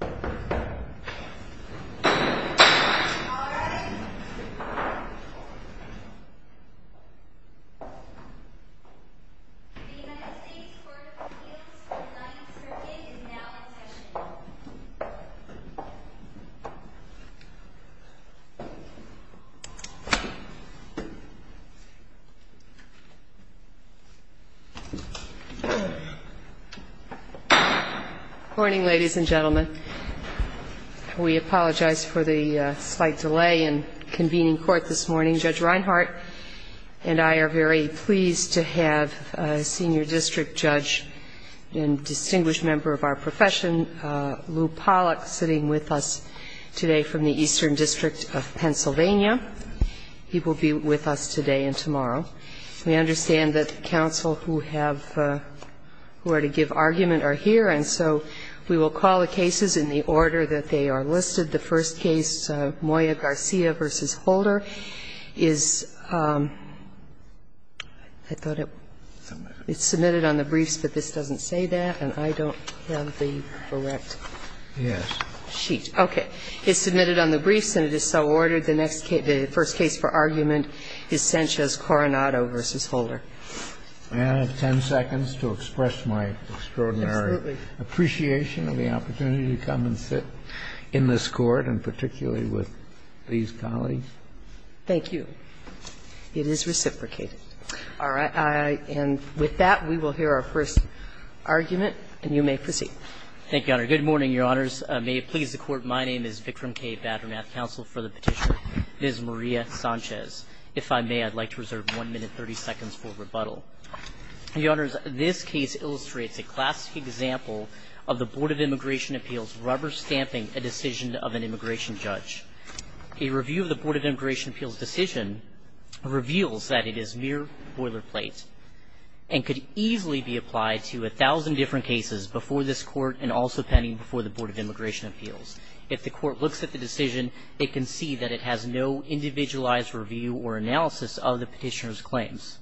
The United States Court of Appeals for the Ninth Circuit is now in session. Good morning, ladies and gentlemen. We apologize for the slight delay in convening court this morning. Judge Reinhart and I are very pleased to have a senior district judge and distinguished member of our profession, Lou Pollock, sitting with us today from the Eastern District of Pennsylvania. He will be with us today and tomorrow. We understand that counsel who have to give argument are here, and so we will call the cases in the order that they are listed. The first case, Moya Garcia v. Holder, is – I thought it was submitted on the briefs, but this doesn't say that, and I don't have the correct sheet. Okay. It's submitted on the briefs, and it is so ordered. The next case – the first case for argument is Sanchez-Coronado v. Holder. May I have 10 seconds to express my extraordinary appreciation of the opportunity to come and sit in this Court, and particularly with these colleagues? Thank you. It is reciprocated. All right. And with that, we will hear our first argument, and you may proceed. Thank you, Your Honor. Good morning, Your Honors. May it please the Court, my name is Vikram K. Badranath, counsel for the Petitioner. It is Maria Sanchez. If I may, I'd like to reserve 1 minute 30 seconds for rebuttal. Your Honors, this case illustrates a classic example of the Board of Immigration Appeals rubber-stamping a decision of an immigration judge. A review of the Board of Immigration Appeals decision reveals that it is mere boilerplate and could easily be applied to 1,000 different cases before this Court and also pending before the Board of Immigration Appeals. If the Court looks at the decision, it can see that it has no individualized review or analysis of the Petitioner's claims.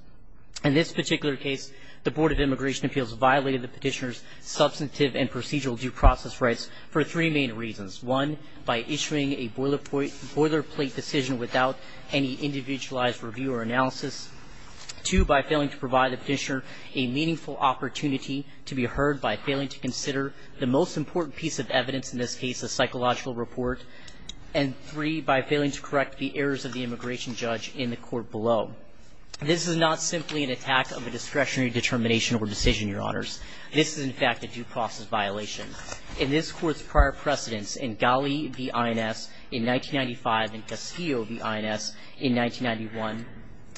In this particular case, the Board of Immigration Appeals violated the Petitioner's substantive and procedural due process rights for three main reasons. One, by issuing a boilerplate decision without any individualized review or analysis. Two, by failing to provide the Petitioner a meaningful opportunity to be heard by failing to consider the most important piece of evidence, in this case, a psychological report. And three, by failing to correct the errors of the immigration judge in the Court below. This is not simply an attack of a discretionary determination or decision, Your Honors. This is, in fact, a due process violation. In this Court's prior precedents, in Ghali v. INS in 1995 and Castillo v. INS in 1991,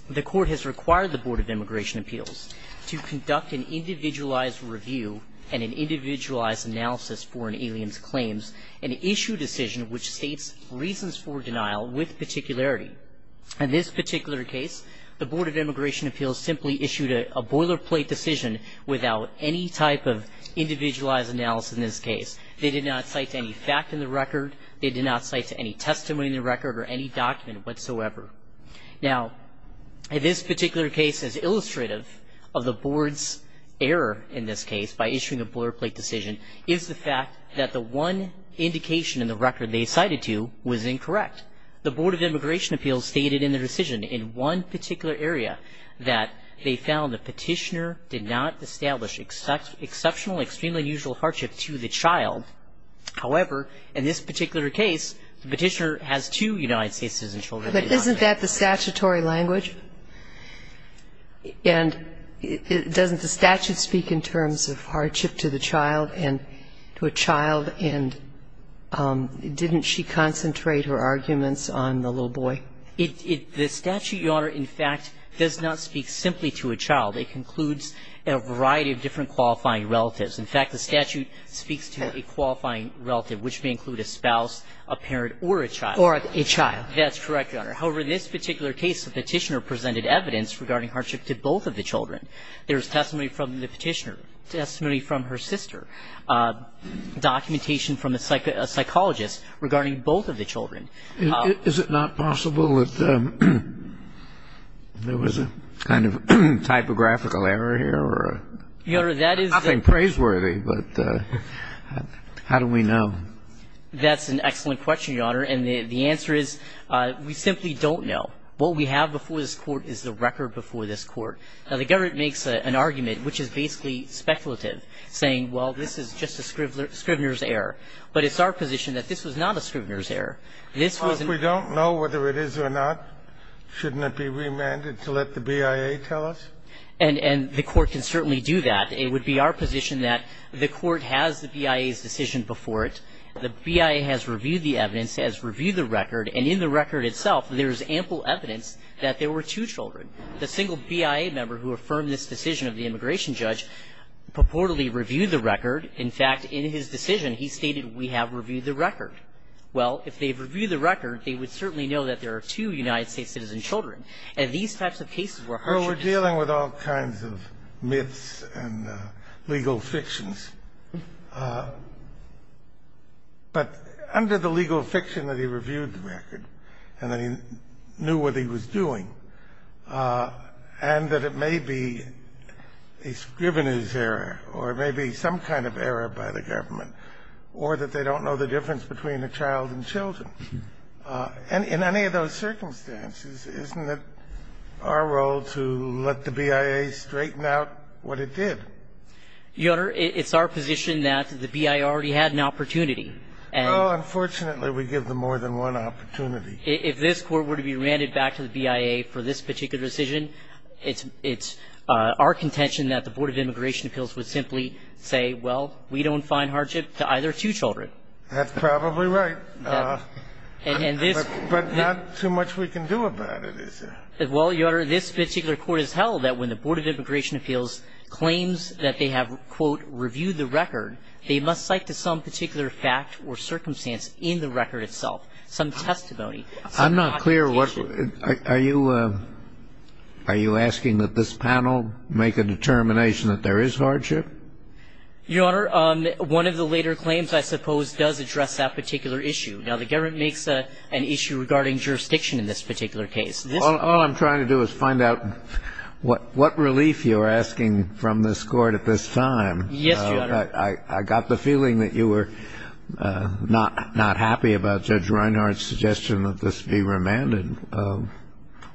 the Court has required the Board of Immigration Appeals to conduct an individualized review and an individualized analysis for an alien's claims and issue a decision which states reasons for denial with particularity. In this particular case, the Board of Immigration Appeals simply issued a boilerplate decision without any type of individualized analysis in this case. They did not cite any fact in the record. They did not cite any testimony in the record or any document whatsoever. Now, this particular case is illustrative of the Board's error in this case by issuing a boilerplate decision is the fact that the one indication in the record they cited to was incorrect. The Board of Immigration Appeals stated in the decision in one particular area that they found the petitioner did not establish exceptional, extremely unusual hardship to the child. However, in this particular case, the petitioner has two United States citizen children. But isn't that the statutory language? And doesn't the statute speak in terms of hardship to the child and to a child? And didn't she concentrate her arguments on the little boy? The statute, Your Honor, in fact, does not speak simply to a child. It concludes a variety of different qualifying relatives. In fact, the statute speaks to a qualifying relative, which may include a spouse, a parent, or a child. Or a child. That's correct, Your Honor. However, in this particular case, the petitioner presented evidence regarding hardship to both of the children. There's testimony from the petitioner, testimony from her sister, documentation from a psychologist regarding both of the children. Is it not possible that there was a kind of typographical error here? Nothing praiseworthy, but how do we know? That's an excellent question, Your Honor. And the answer is we simply don't know. What we have before this Court is the record before this Court. Now, the government makes an argument, which is basically speculative, saying, well, this is just a scrivener's error. This was an error. Well, if we don't know whether it is or not, shouldn't it be remanded to let the BIA tell us? And the Court can certainly do that. It would be our position that the Court has the BIA's decision before it. The BIA has reviewed the evidence, has reviewed the record, and in the record itself, there's ample evidence that there were two children. The single BIA member who affirmed this decision of the immigration judge purportedly reviewed the record. In fact, in his decision, he stated, we have reviewed the record. Well, if they've reviewed the record, they would certainly know that there are two United States citizen children. And these types of cases were harshly discussed. Well, we're dealing with all kinds of myths and legal fictions. But under the legal fiction that he reviewed the record and that he knew what he was doing, and that it may be a scrivener's error or it may be some kind of error by the child. And in any of those circumstances, isn't it our role to let the BIA straighten out what it did? Your Honor, it's our position that the BIA already had an opportunity. And unfortunately, we give them more than one opportunity. If this Court were to be remanded back to the BIA for this particular decision, it's our contention that the board of immigration appeals would simply say, well, we don't find hardship to either two children. That's probably right. And this But not too much we can do about it, is there? Well, Your Honor, this particular court has held that when the Board of Immigration Appeals claims that they have, quote, reviewed the record, they must cite to some particular fact or circumstance in the record itself, some testimony. I'm not clear. What are you are you asking that this panel make a determination that there is hardship? Your Honor, one of the later claims, I suppose, does address that particular issue. Now, the government makes an issue regarding jurisdiction in this particular case. All I'm trying to do is find out what relief you're asking from this Court at this time. Yes, Your Honor. I got the feeling that you were not happy about Judge Reinhardt's suggestion that this be remanded.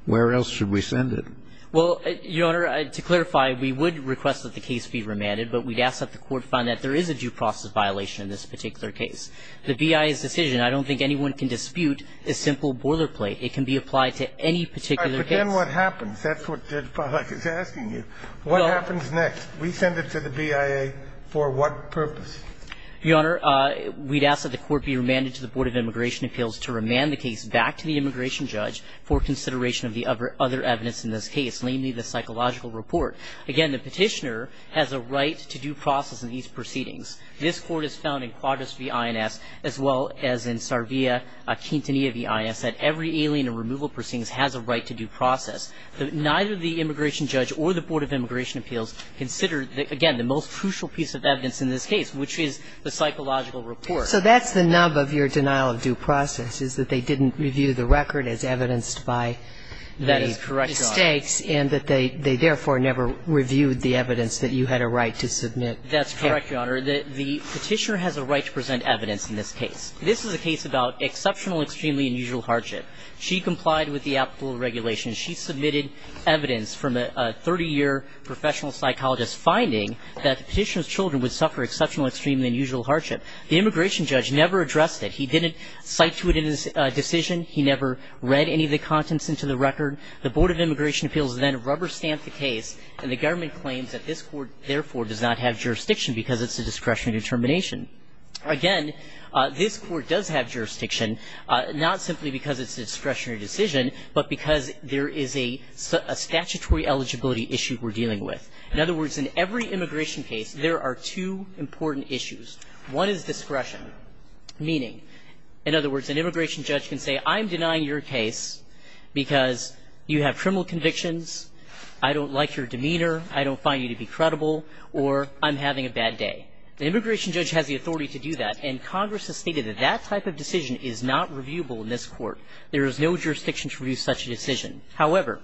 Where else should we send it? Well, Your Honor, to clarify, we would request that the case be remanded. But we'd ask that the court find that there is a due process violation in this particular case. The BIA's decision, I don't think anyone can dispute, is simple boilerplate. It can be applied to any particular case. But then what happens? That's what Judge Pollack is asking you. What happens next? We send it to the BIA for what purpose? Your Honor, we'd ask that the court be remanded to the Board of Immigration Appeals to remand the case back to the immigration judge for consideration of the other evidence in this case, namely the psychological report. Again, the petitioner has a right to due process in these proceedings. This Court has found in Quadris v. INS, as well as in Sarvia-Quintanilla v. INS, that every alien and removal proceedings has a right to due process. Neither the immigration judge or the Board of Immigration Appeals consider, again, the most crucial piece of evidence in this case, which is the psychological report. So that's the nub of your denial of due process, is that they didn't review the record as evidenced by the mistakes and that they therefore never reviewed the evidence that you had a right to submit? That's correct, Your Honor. The petitioner has a right to present evidence in this case. This is a case about exceptional, extremely unusual hardship. She complied with the applicable regulations. She submitted evidence from a 30-year professional psychologist finding that the petitioner's children would suffer exceptional, extremely unusual hardship. The immigration judge never addressed it. He didn't cite to it in his decision. He never read any of the contents into the record. The Board of Immigration Appeals then rubber-stamped the case, and the government claims that this Court, therefore, does not have jurisdiction because it's a discretionary determination. Again, this Court does have jurisdiction, not simply because it's a discretionary decision, but because there is a statutory eligibility issue we're dealing with. In other words, in every immigration case, there are two important issues. One is discretion, meaning, in other words, an immigration judge can say, I'm denying your case because you have criminal convictions, I don't like your demeanor, I don't find you to be credible, or I'm having a bad day. The immigration judge has the authority to do that, and Congress has stated that that type of decision is not reviewable in this Court. There is no jurisdiction to review such a decision. However,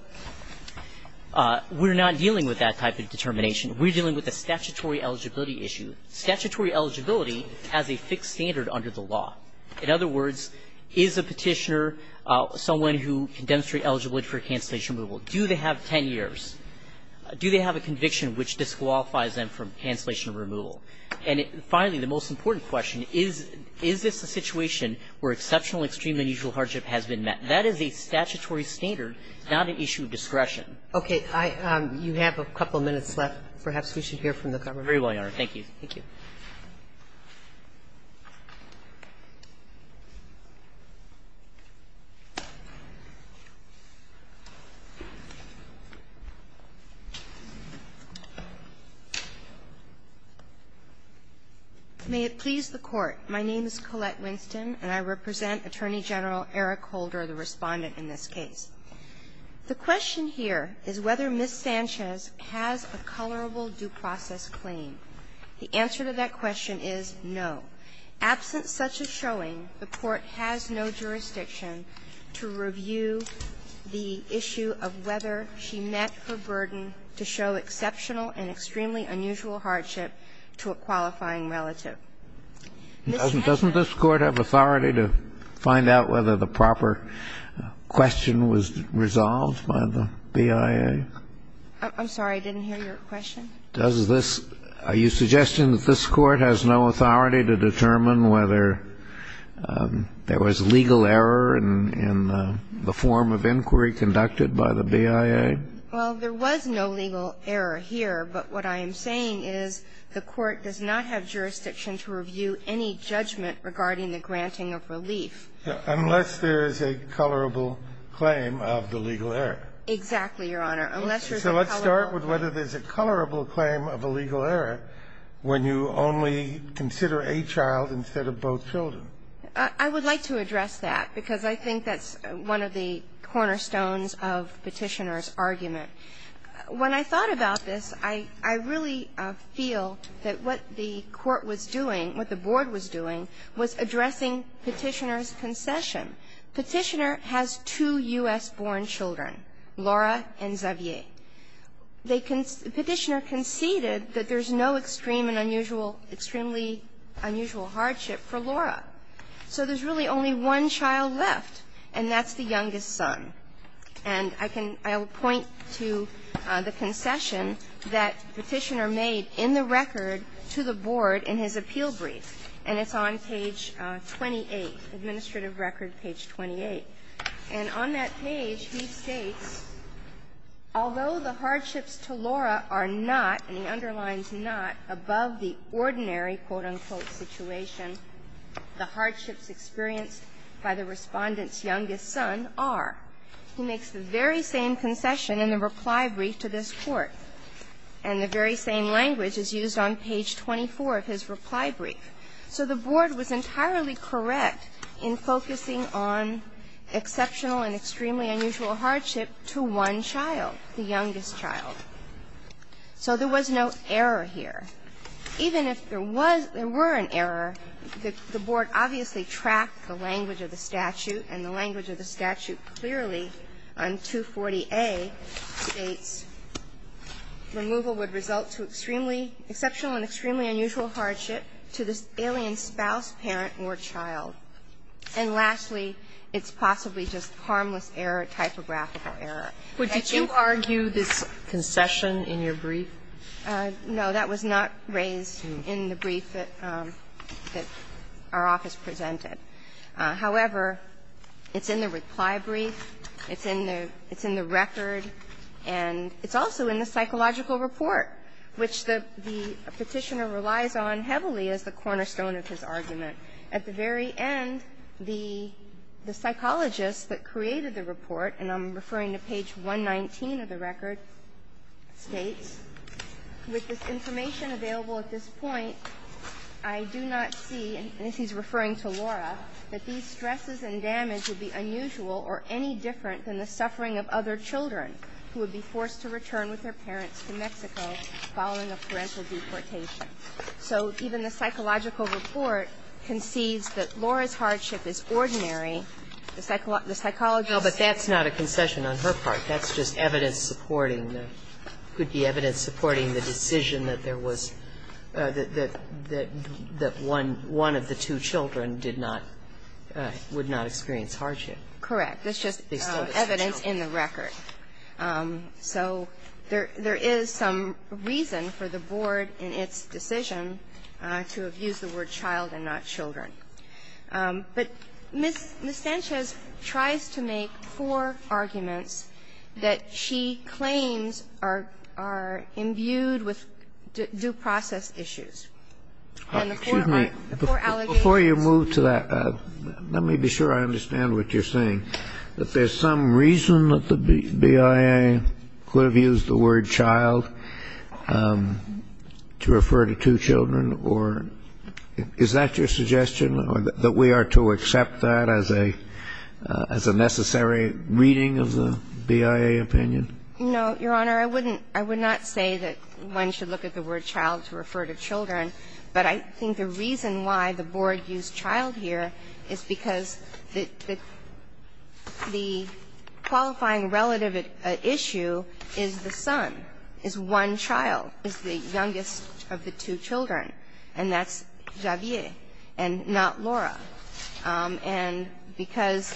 we're not dealing with that type of determination. We're dealing with a statutory eligibility issue. Statutory eligibility has a fixed standard under the law. In other words, is a Petitioner someone who can demonstrate eligibility for cancellation removal? Do they have 10 years? Do they have a conviction which disqualifies them from cancellation removal? And finally, the most important question, is this a situation where exceptional, extreme, unusual hardship has been met? That is a statutory standard, not an issue of discretion. Sotomayor, you have a couple minutes left. Perhaps we should hear from the government. Very well, Your Honor. Thank you. Thank you. May it please the Court. My name is Colette Winston, and I represent Attorney General Eric Holder, the Respondent in this case. The question here is whether Ms. Sanchez has a colorable due process claim. The answer to that question is no. Absent such a showing, the Court has no jurisdiction to review the issue of whether she met her burden to show exceptional and extremely unusual hardship to a qualifying This has not been the case. Doesn't this Court have authority to find out whether the proper question was resolved by the BIA? I'm sorry, I didn't hear your question. Does this – are you suggesting that this Court has no authority to determine whether there was legal error in the form of inquiry conducted by the BIA? Well, there was no legal error here, but what I am saying is the Court does not have jurisdiction to review any judgment regarding the granting of relief. Unless there is a colorable claim of the legal error. Exactly, Your Honor. So let's start with whether there's a colorable claim of a legal error when you only consider a child instead of both children. I would like to address that, because I think that's one of the cornerstones of Petitioner's argument. When I thought about this, I really feel that what the Court was doing, what the Board was doing, was addressing Petitioner's concession. Petitioner has two U.S.-born children, Laura and Xavier. They conceded – Petitioner conceded that there's no extreme and unusual – extremely unusual hardship for Laura. So there's really only one child left, and that's the youngest son. And I can – I will point to the concession that Petitioner made in the record to the Board in his appeal brief, and it's on page 28, Administrative Record, page 28. And on that page, he states, "...although the hardships to Laura are not," and he underlines "...not above the ordinary," quote, unquote, "...situation, the hardships experienced by the Respondent's youngest son are..." He makes the very same concession in the reply brief to this Court, and the very same language is used on page 24 of his reply brief. So the Board was entirely correct in focusing on exceptional and extremely unusual hardship to one child, the youngest child. So there was no error here. Even if there was – there were an error, the Board obviously tracked the language of the statute, and the language of the statute clearly on 240A states removal would result to extremely – exceptional and extremely unusual hardship to the And the language of the statute clearly on 240A states removal would result to extremely unusual hardship to this alien spouse, parent, or child. And lastly, it's possibly just harmless error, typographical error. But did you argue this concession in your brief? No. That was not raised in the brief that our office presented. However, it's in the reply brief, it's in the record, and it's also in the psychological report, which the Petitioner relies on heavily as the cornerstone of his argument. At the very end, the psychologist that created the report, and I'm referring to page 119 of the record, states, With the information available at this point, I do not see, and this is referring to Laura, that these stresses and damage would be unusual or any different than the suffering of other children who would be forced to return with their parents to Mexico following a parental deportation. So even the psychological report concedes that Laura's hardship is ordinary. The psychologist – But that's not a concession on her part. That's just evidence supporting the – could be evidence supporting the decision that there was – that one of the two children did not – would not experience hardship. Correct. That's just evidence in the record. So there is some reason for the Board in its decision to have used the word child and not children. But Ms. Sanchez tries to make four arguments that she claims are imbued with due process issues. And the four are four allegations. Before you move to that, let me be sure I understand what you're saying, that there's some reason that the BIA could have used the word child to refer to two children or – is that your suggestion, that we are to accept that as a – as a necessary reading of the BIA opinion? No, Your Honor. I wouldn't – I would not say that one should look at the word child to refer to children. But I think the reason why the Board used child here is because the – the qualifying relative issue is the son, is one child, is the youngest of the two children. And that's Javier and not Laura. And because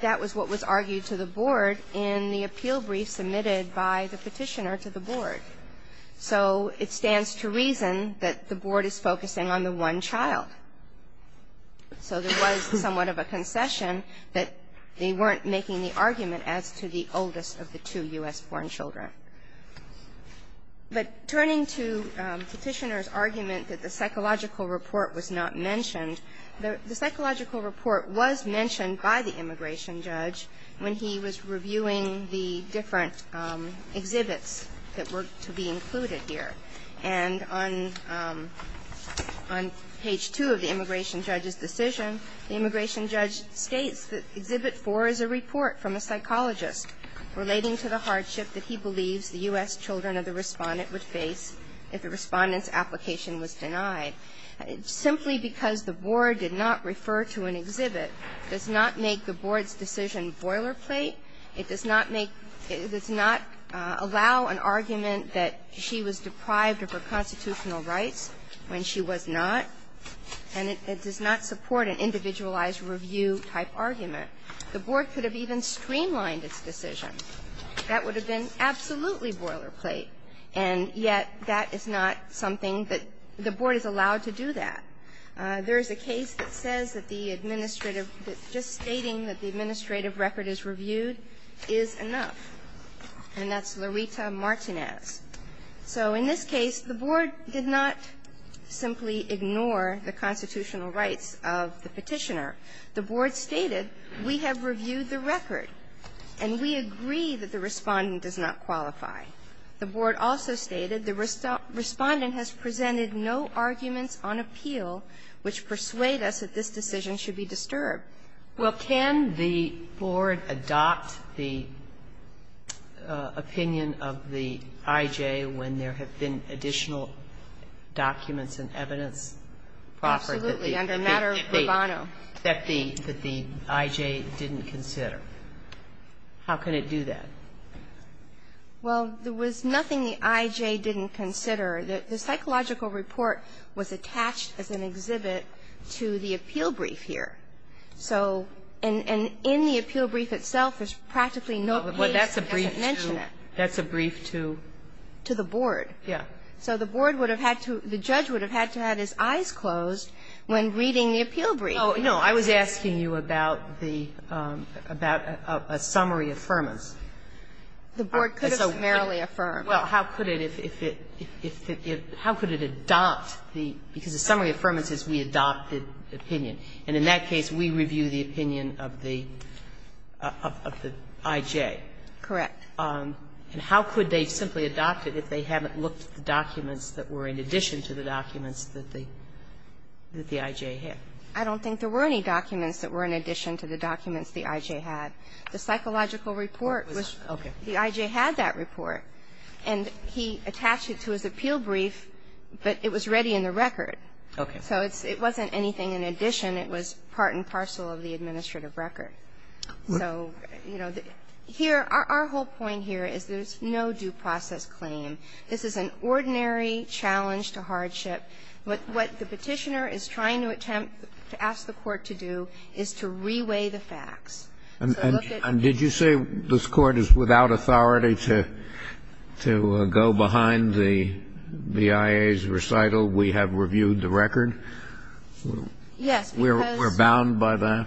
that was what was argued to the Board in the appeal brief submitted by the Petitioner to the Board. So it stands to reason that the Board is focusing on the one child. So there was somewhat of a concession that they weren't making the argument as to the oldest of the two U.S.-born children. But turning to Petitioner's argument that the psychological report was not mentioned, the psychological report was mentioned by the immigration judge when he was reviewing the different exhibits that were to be included here. And on – on page 2 of the immigration judge's decision, the immigration judge states that Exhibit 4 is a report from a psychologist relating to the hardship that he believes the U.S. children of the Respondent would face if the Respondent's application was denied, simply because the Board did not refer to an exhibit, does not make the Board's decision boilerplate, it does not make – it does not allow an argument that she was deprived of her constitutional rights when she was not, and it does not support an individualized review-type argument. The Board could have even streamlined its decision. That would have been absolutely boilerplate, and yet that is not something that the Board is allowed to do that. There is a case that says that the administrative – that just stating that the administrative record is reviewed is enough, and that's Loretta Martinez. So in this case, the Board did not simply ignore the constitutional rights of the Petitioner. The Board stated, we have reviewed the record, and we agree that the Respondent does not qualify. The Board also stated the Respondent has presented no arguments on appeal which persuade us that this decision should be disturbed. Well, can the Board adopt the opinion of the IJ when there have been additional that the IJ didn't consider? How can it do that? Well, there was nothing the IJ didn't consider. The psychological report was attached as an exhibit to the appeal brief here. So – and in the appeal brief itself, there's practically no case that doesn't mention it. That's a brief to? To the Board. Yeah. So the Board would have had to – the judge would have had to have his eyes closed when reading the appeal brief. No, I was asking you about the – about a summary affirmance. The Board could have summarily affirmed. Well, how could it if it – if it – how could it adopt the – because the summary affirmance is we adopt the opinion, and in that case, we review the opinion of the IJ. Correct. And how could they simply adopt it if they haven't looked at the documents that were in addition to the documents that the IJ had? I don't think there were any documents that were in addition to the documents the IJ had. The psychological report was – the IJ had that report, and he attached it to his appeal brief, but it was ready in the record. Okay. So it's – it wasn't anything in addition. It was part and parcel of the administrative record. So, you know, here – our whole point here is there's no due process claim. This is an ordinary challenge to hardship. But what the Petitioner is trying to attempt to ask the Court to do is to reweigh the facts. And did you say this Court is without authority to – to go behind the BIA's recital, we have reviewed the record? Yes, because – We're bound by that?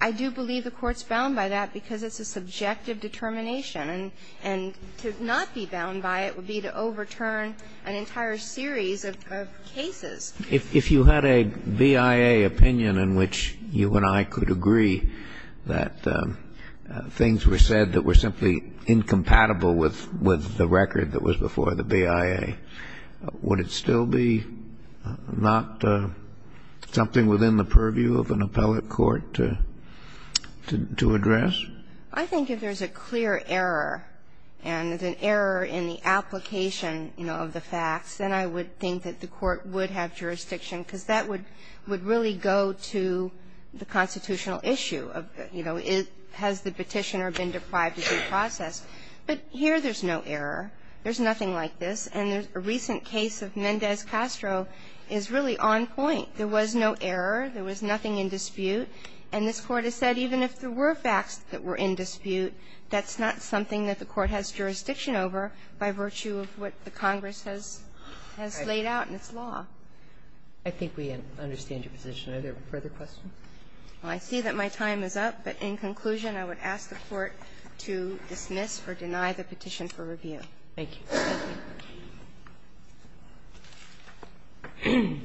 I do believe the Court's bound by that because it's a subjective determination. And to not be bound by it would be to overturn an entire series of cases. If you had a BIA opinion in which you and I could agree that things were said that were simply incompatible with – with the record that was before the BIA, would it still be not something within the purview of an appellate court to – to address? I think if there's a clear error and an error in the application, you know, of the facts, then I would think that the Court would have jurisdiction because that would really go to the constitutional issue of, you know, has the Petitioner been deprived of due process. But here there's no error. There's nothing like this. And a recent case of Mendez-Castro is really on point. There was no error. There was nothing in dispute. And this Court has said even if there were facts that were in dispute, that's not something that the Court has jurisdiction over by virtue of what the Congress has – has laid out in its law. I think we understand your position. Are there further questions? I see that my time is up. But in conclusion, I would ask the Court to dismiss or deny the petition for review. Thank you.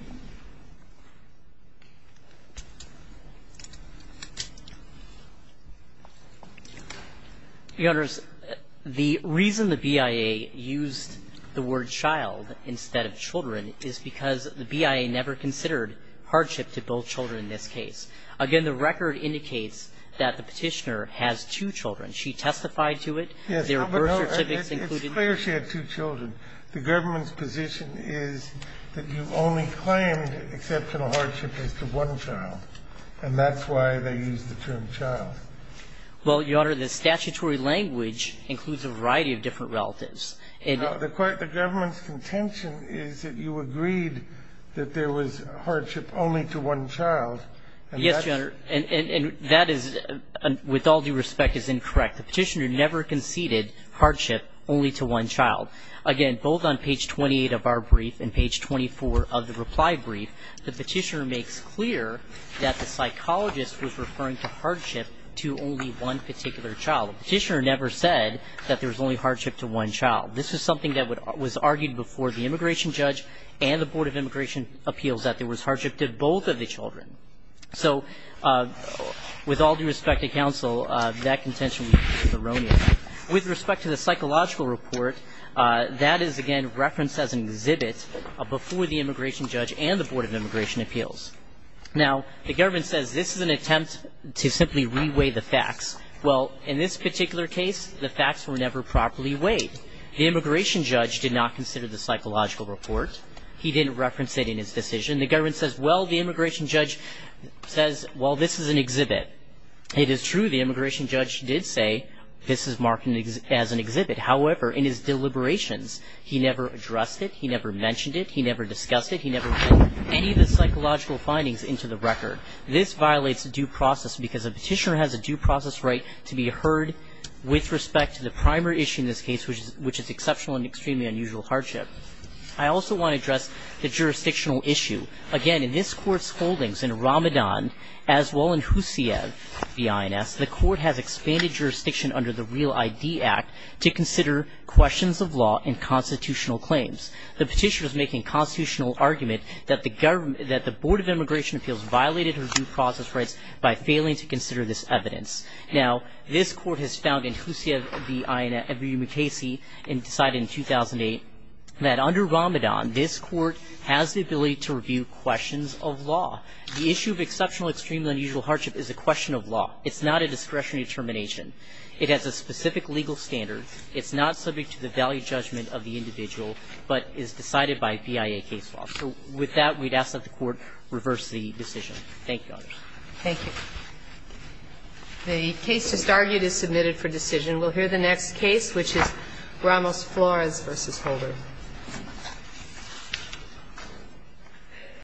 The reason the BIA used the word child instead of children is because the BIA never considered hardship to both children in this case. Again, the record indicates that the Petitioner has two children. She testified to it. There were birth certificates included. It's clear she had two children. The government's position is that you only claimed exceptional hardship as to one child, and that's why they used the term child. Well, Your Honor, the statutory language includes a variety of different relatives. The government's contention is that you agreed that there was hardship only to one child. Yes, Your Honor. And that is, with all due respect, is incorrect. The Petitioner never conceded hardship only to one child. Again, both on page 28 of our brief and page 24 of the reply brief, the Petitioner makes clear that the psychologist was referring to hardship to only one particular child. The Petitioner never said that there was only hardship to one child. This is something that was argued before the immigration judge and the Board of Immigration Appeals that there was hardship to both of the children. So with all due respect to counsel, that contention is erroneous. With respect to the psychological report, that is, again, referenced as an exhibit before the immigration judge and the Board of Immigration Appeals. Now, the government says this is an attempt to simply reweigh the facts. Well, in this particular case, the facts were never properly weighed. The immigration judge did not consider the psychological report. He didn't reference it in his decision. The government says, well, the immigration judge says, well, this is an exhibit. It is true the immigration judge did say this is marked as an exhibit. However, in his deliberations, he never addressed it. He never mentioned it. He never discussed it. He never put any of the psychological findings into the record. This violates due process because a petitioner has a due process right to be heard with respect to the primary issue in this case, which is exceptional and extremely unusual hardship. I also want to address the jurisdictional issue. Again, in this court's holdings in Ramadan, as well in Huseyev v. INS, the court has expanded jurisdiction under the Real ID Act to consider questions of law and constitutional claims. The petitioner is making a constitutional argument that the Board of Immigration Appeals violated her due process rights by failing to consider this evidence. Now, this court has found in Huseyev v. INS that under Ramadan, this court has the ability to review questions of law. The issue of exceptional, extremely unusual hardship is a question of law. It's not a discretionary determination. It has a specific legal standard. It's not subject to the value judgment of the individual, but is decided by BIA case law. So with that, we'd ask that the court reverse the decision. Thank you, others. Thank you. The case just argued is submitted for decision. We'll hear the next case, which is Ramos-Flores v. Holder.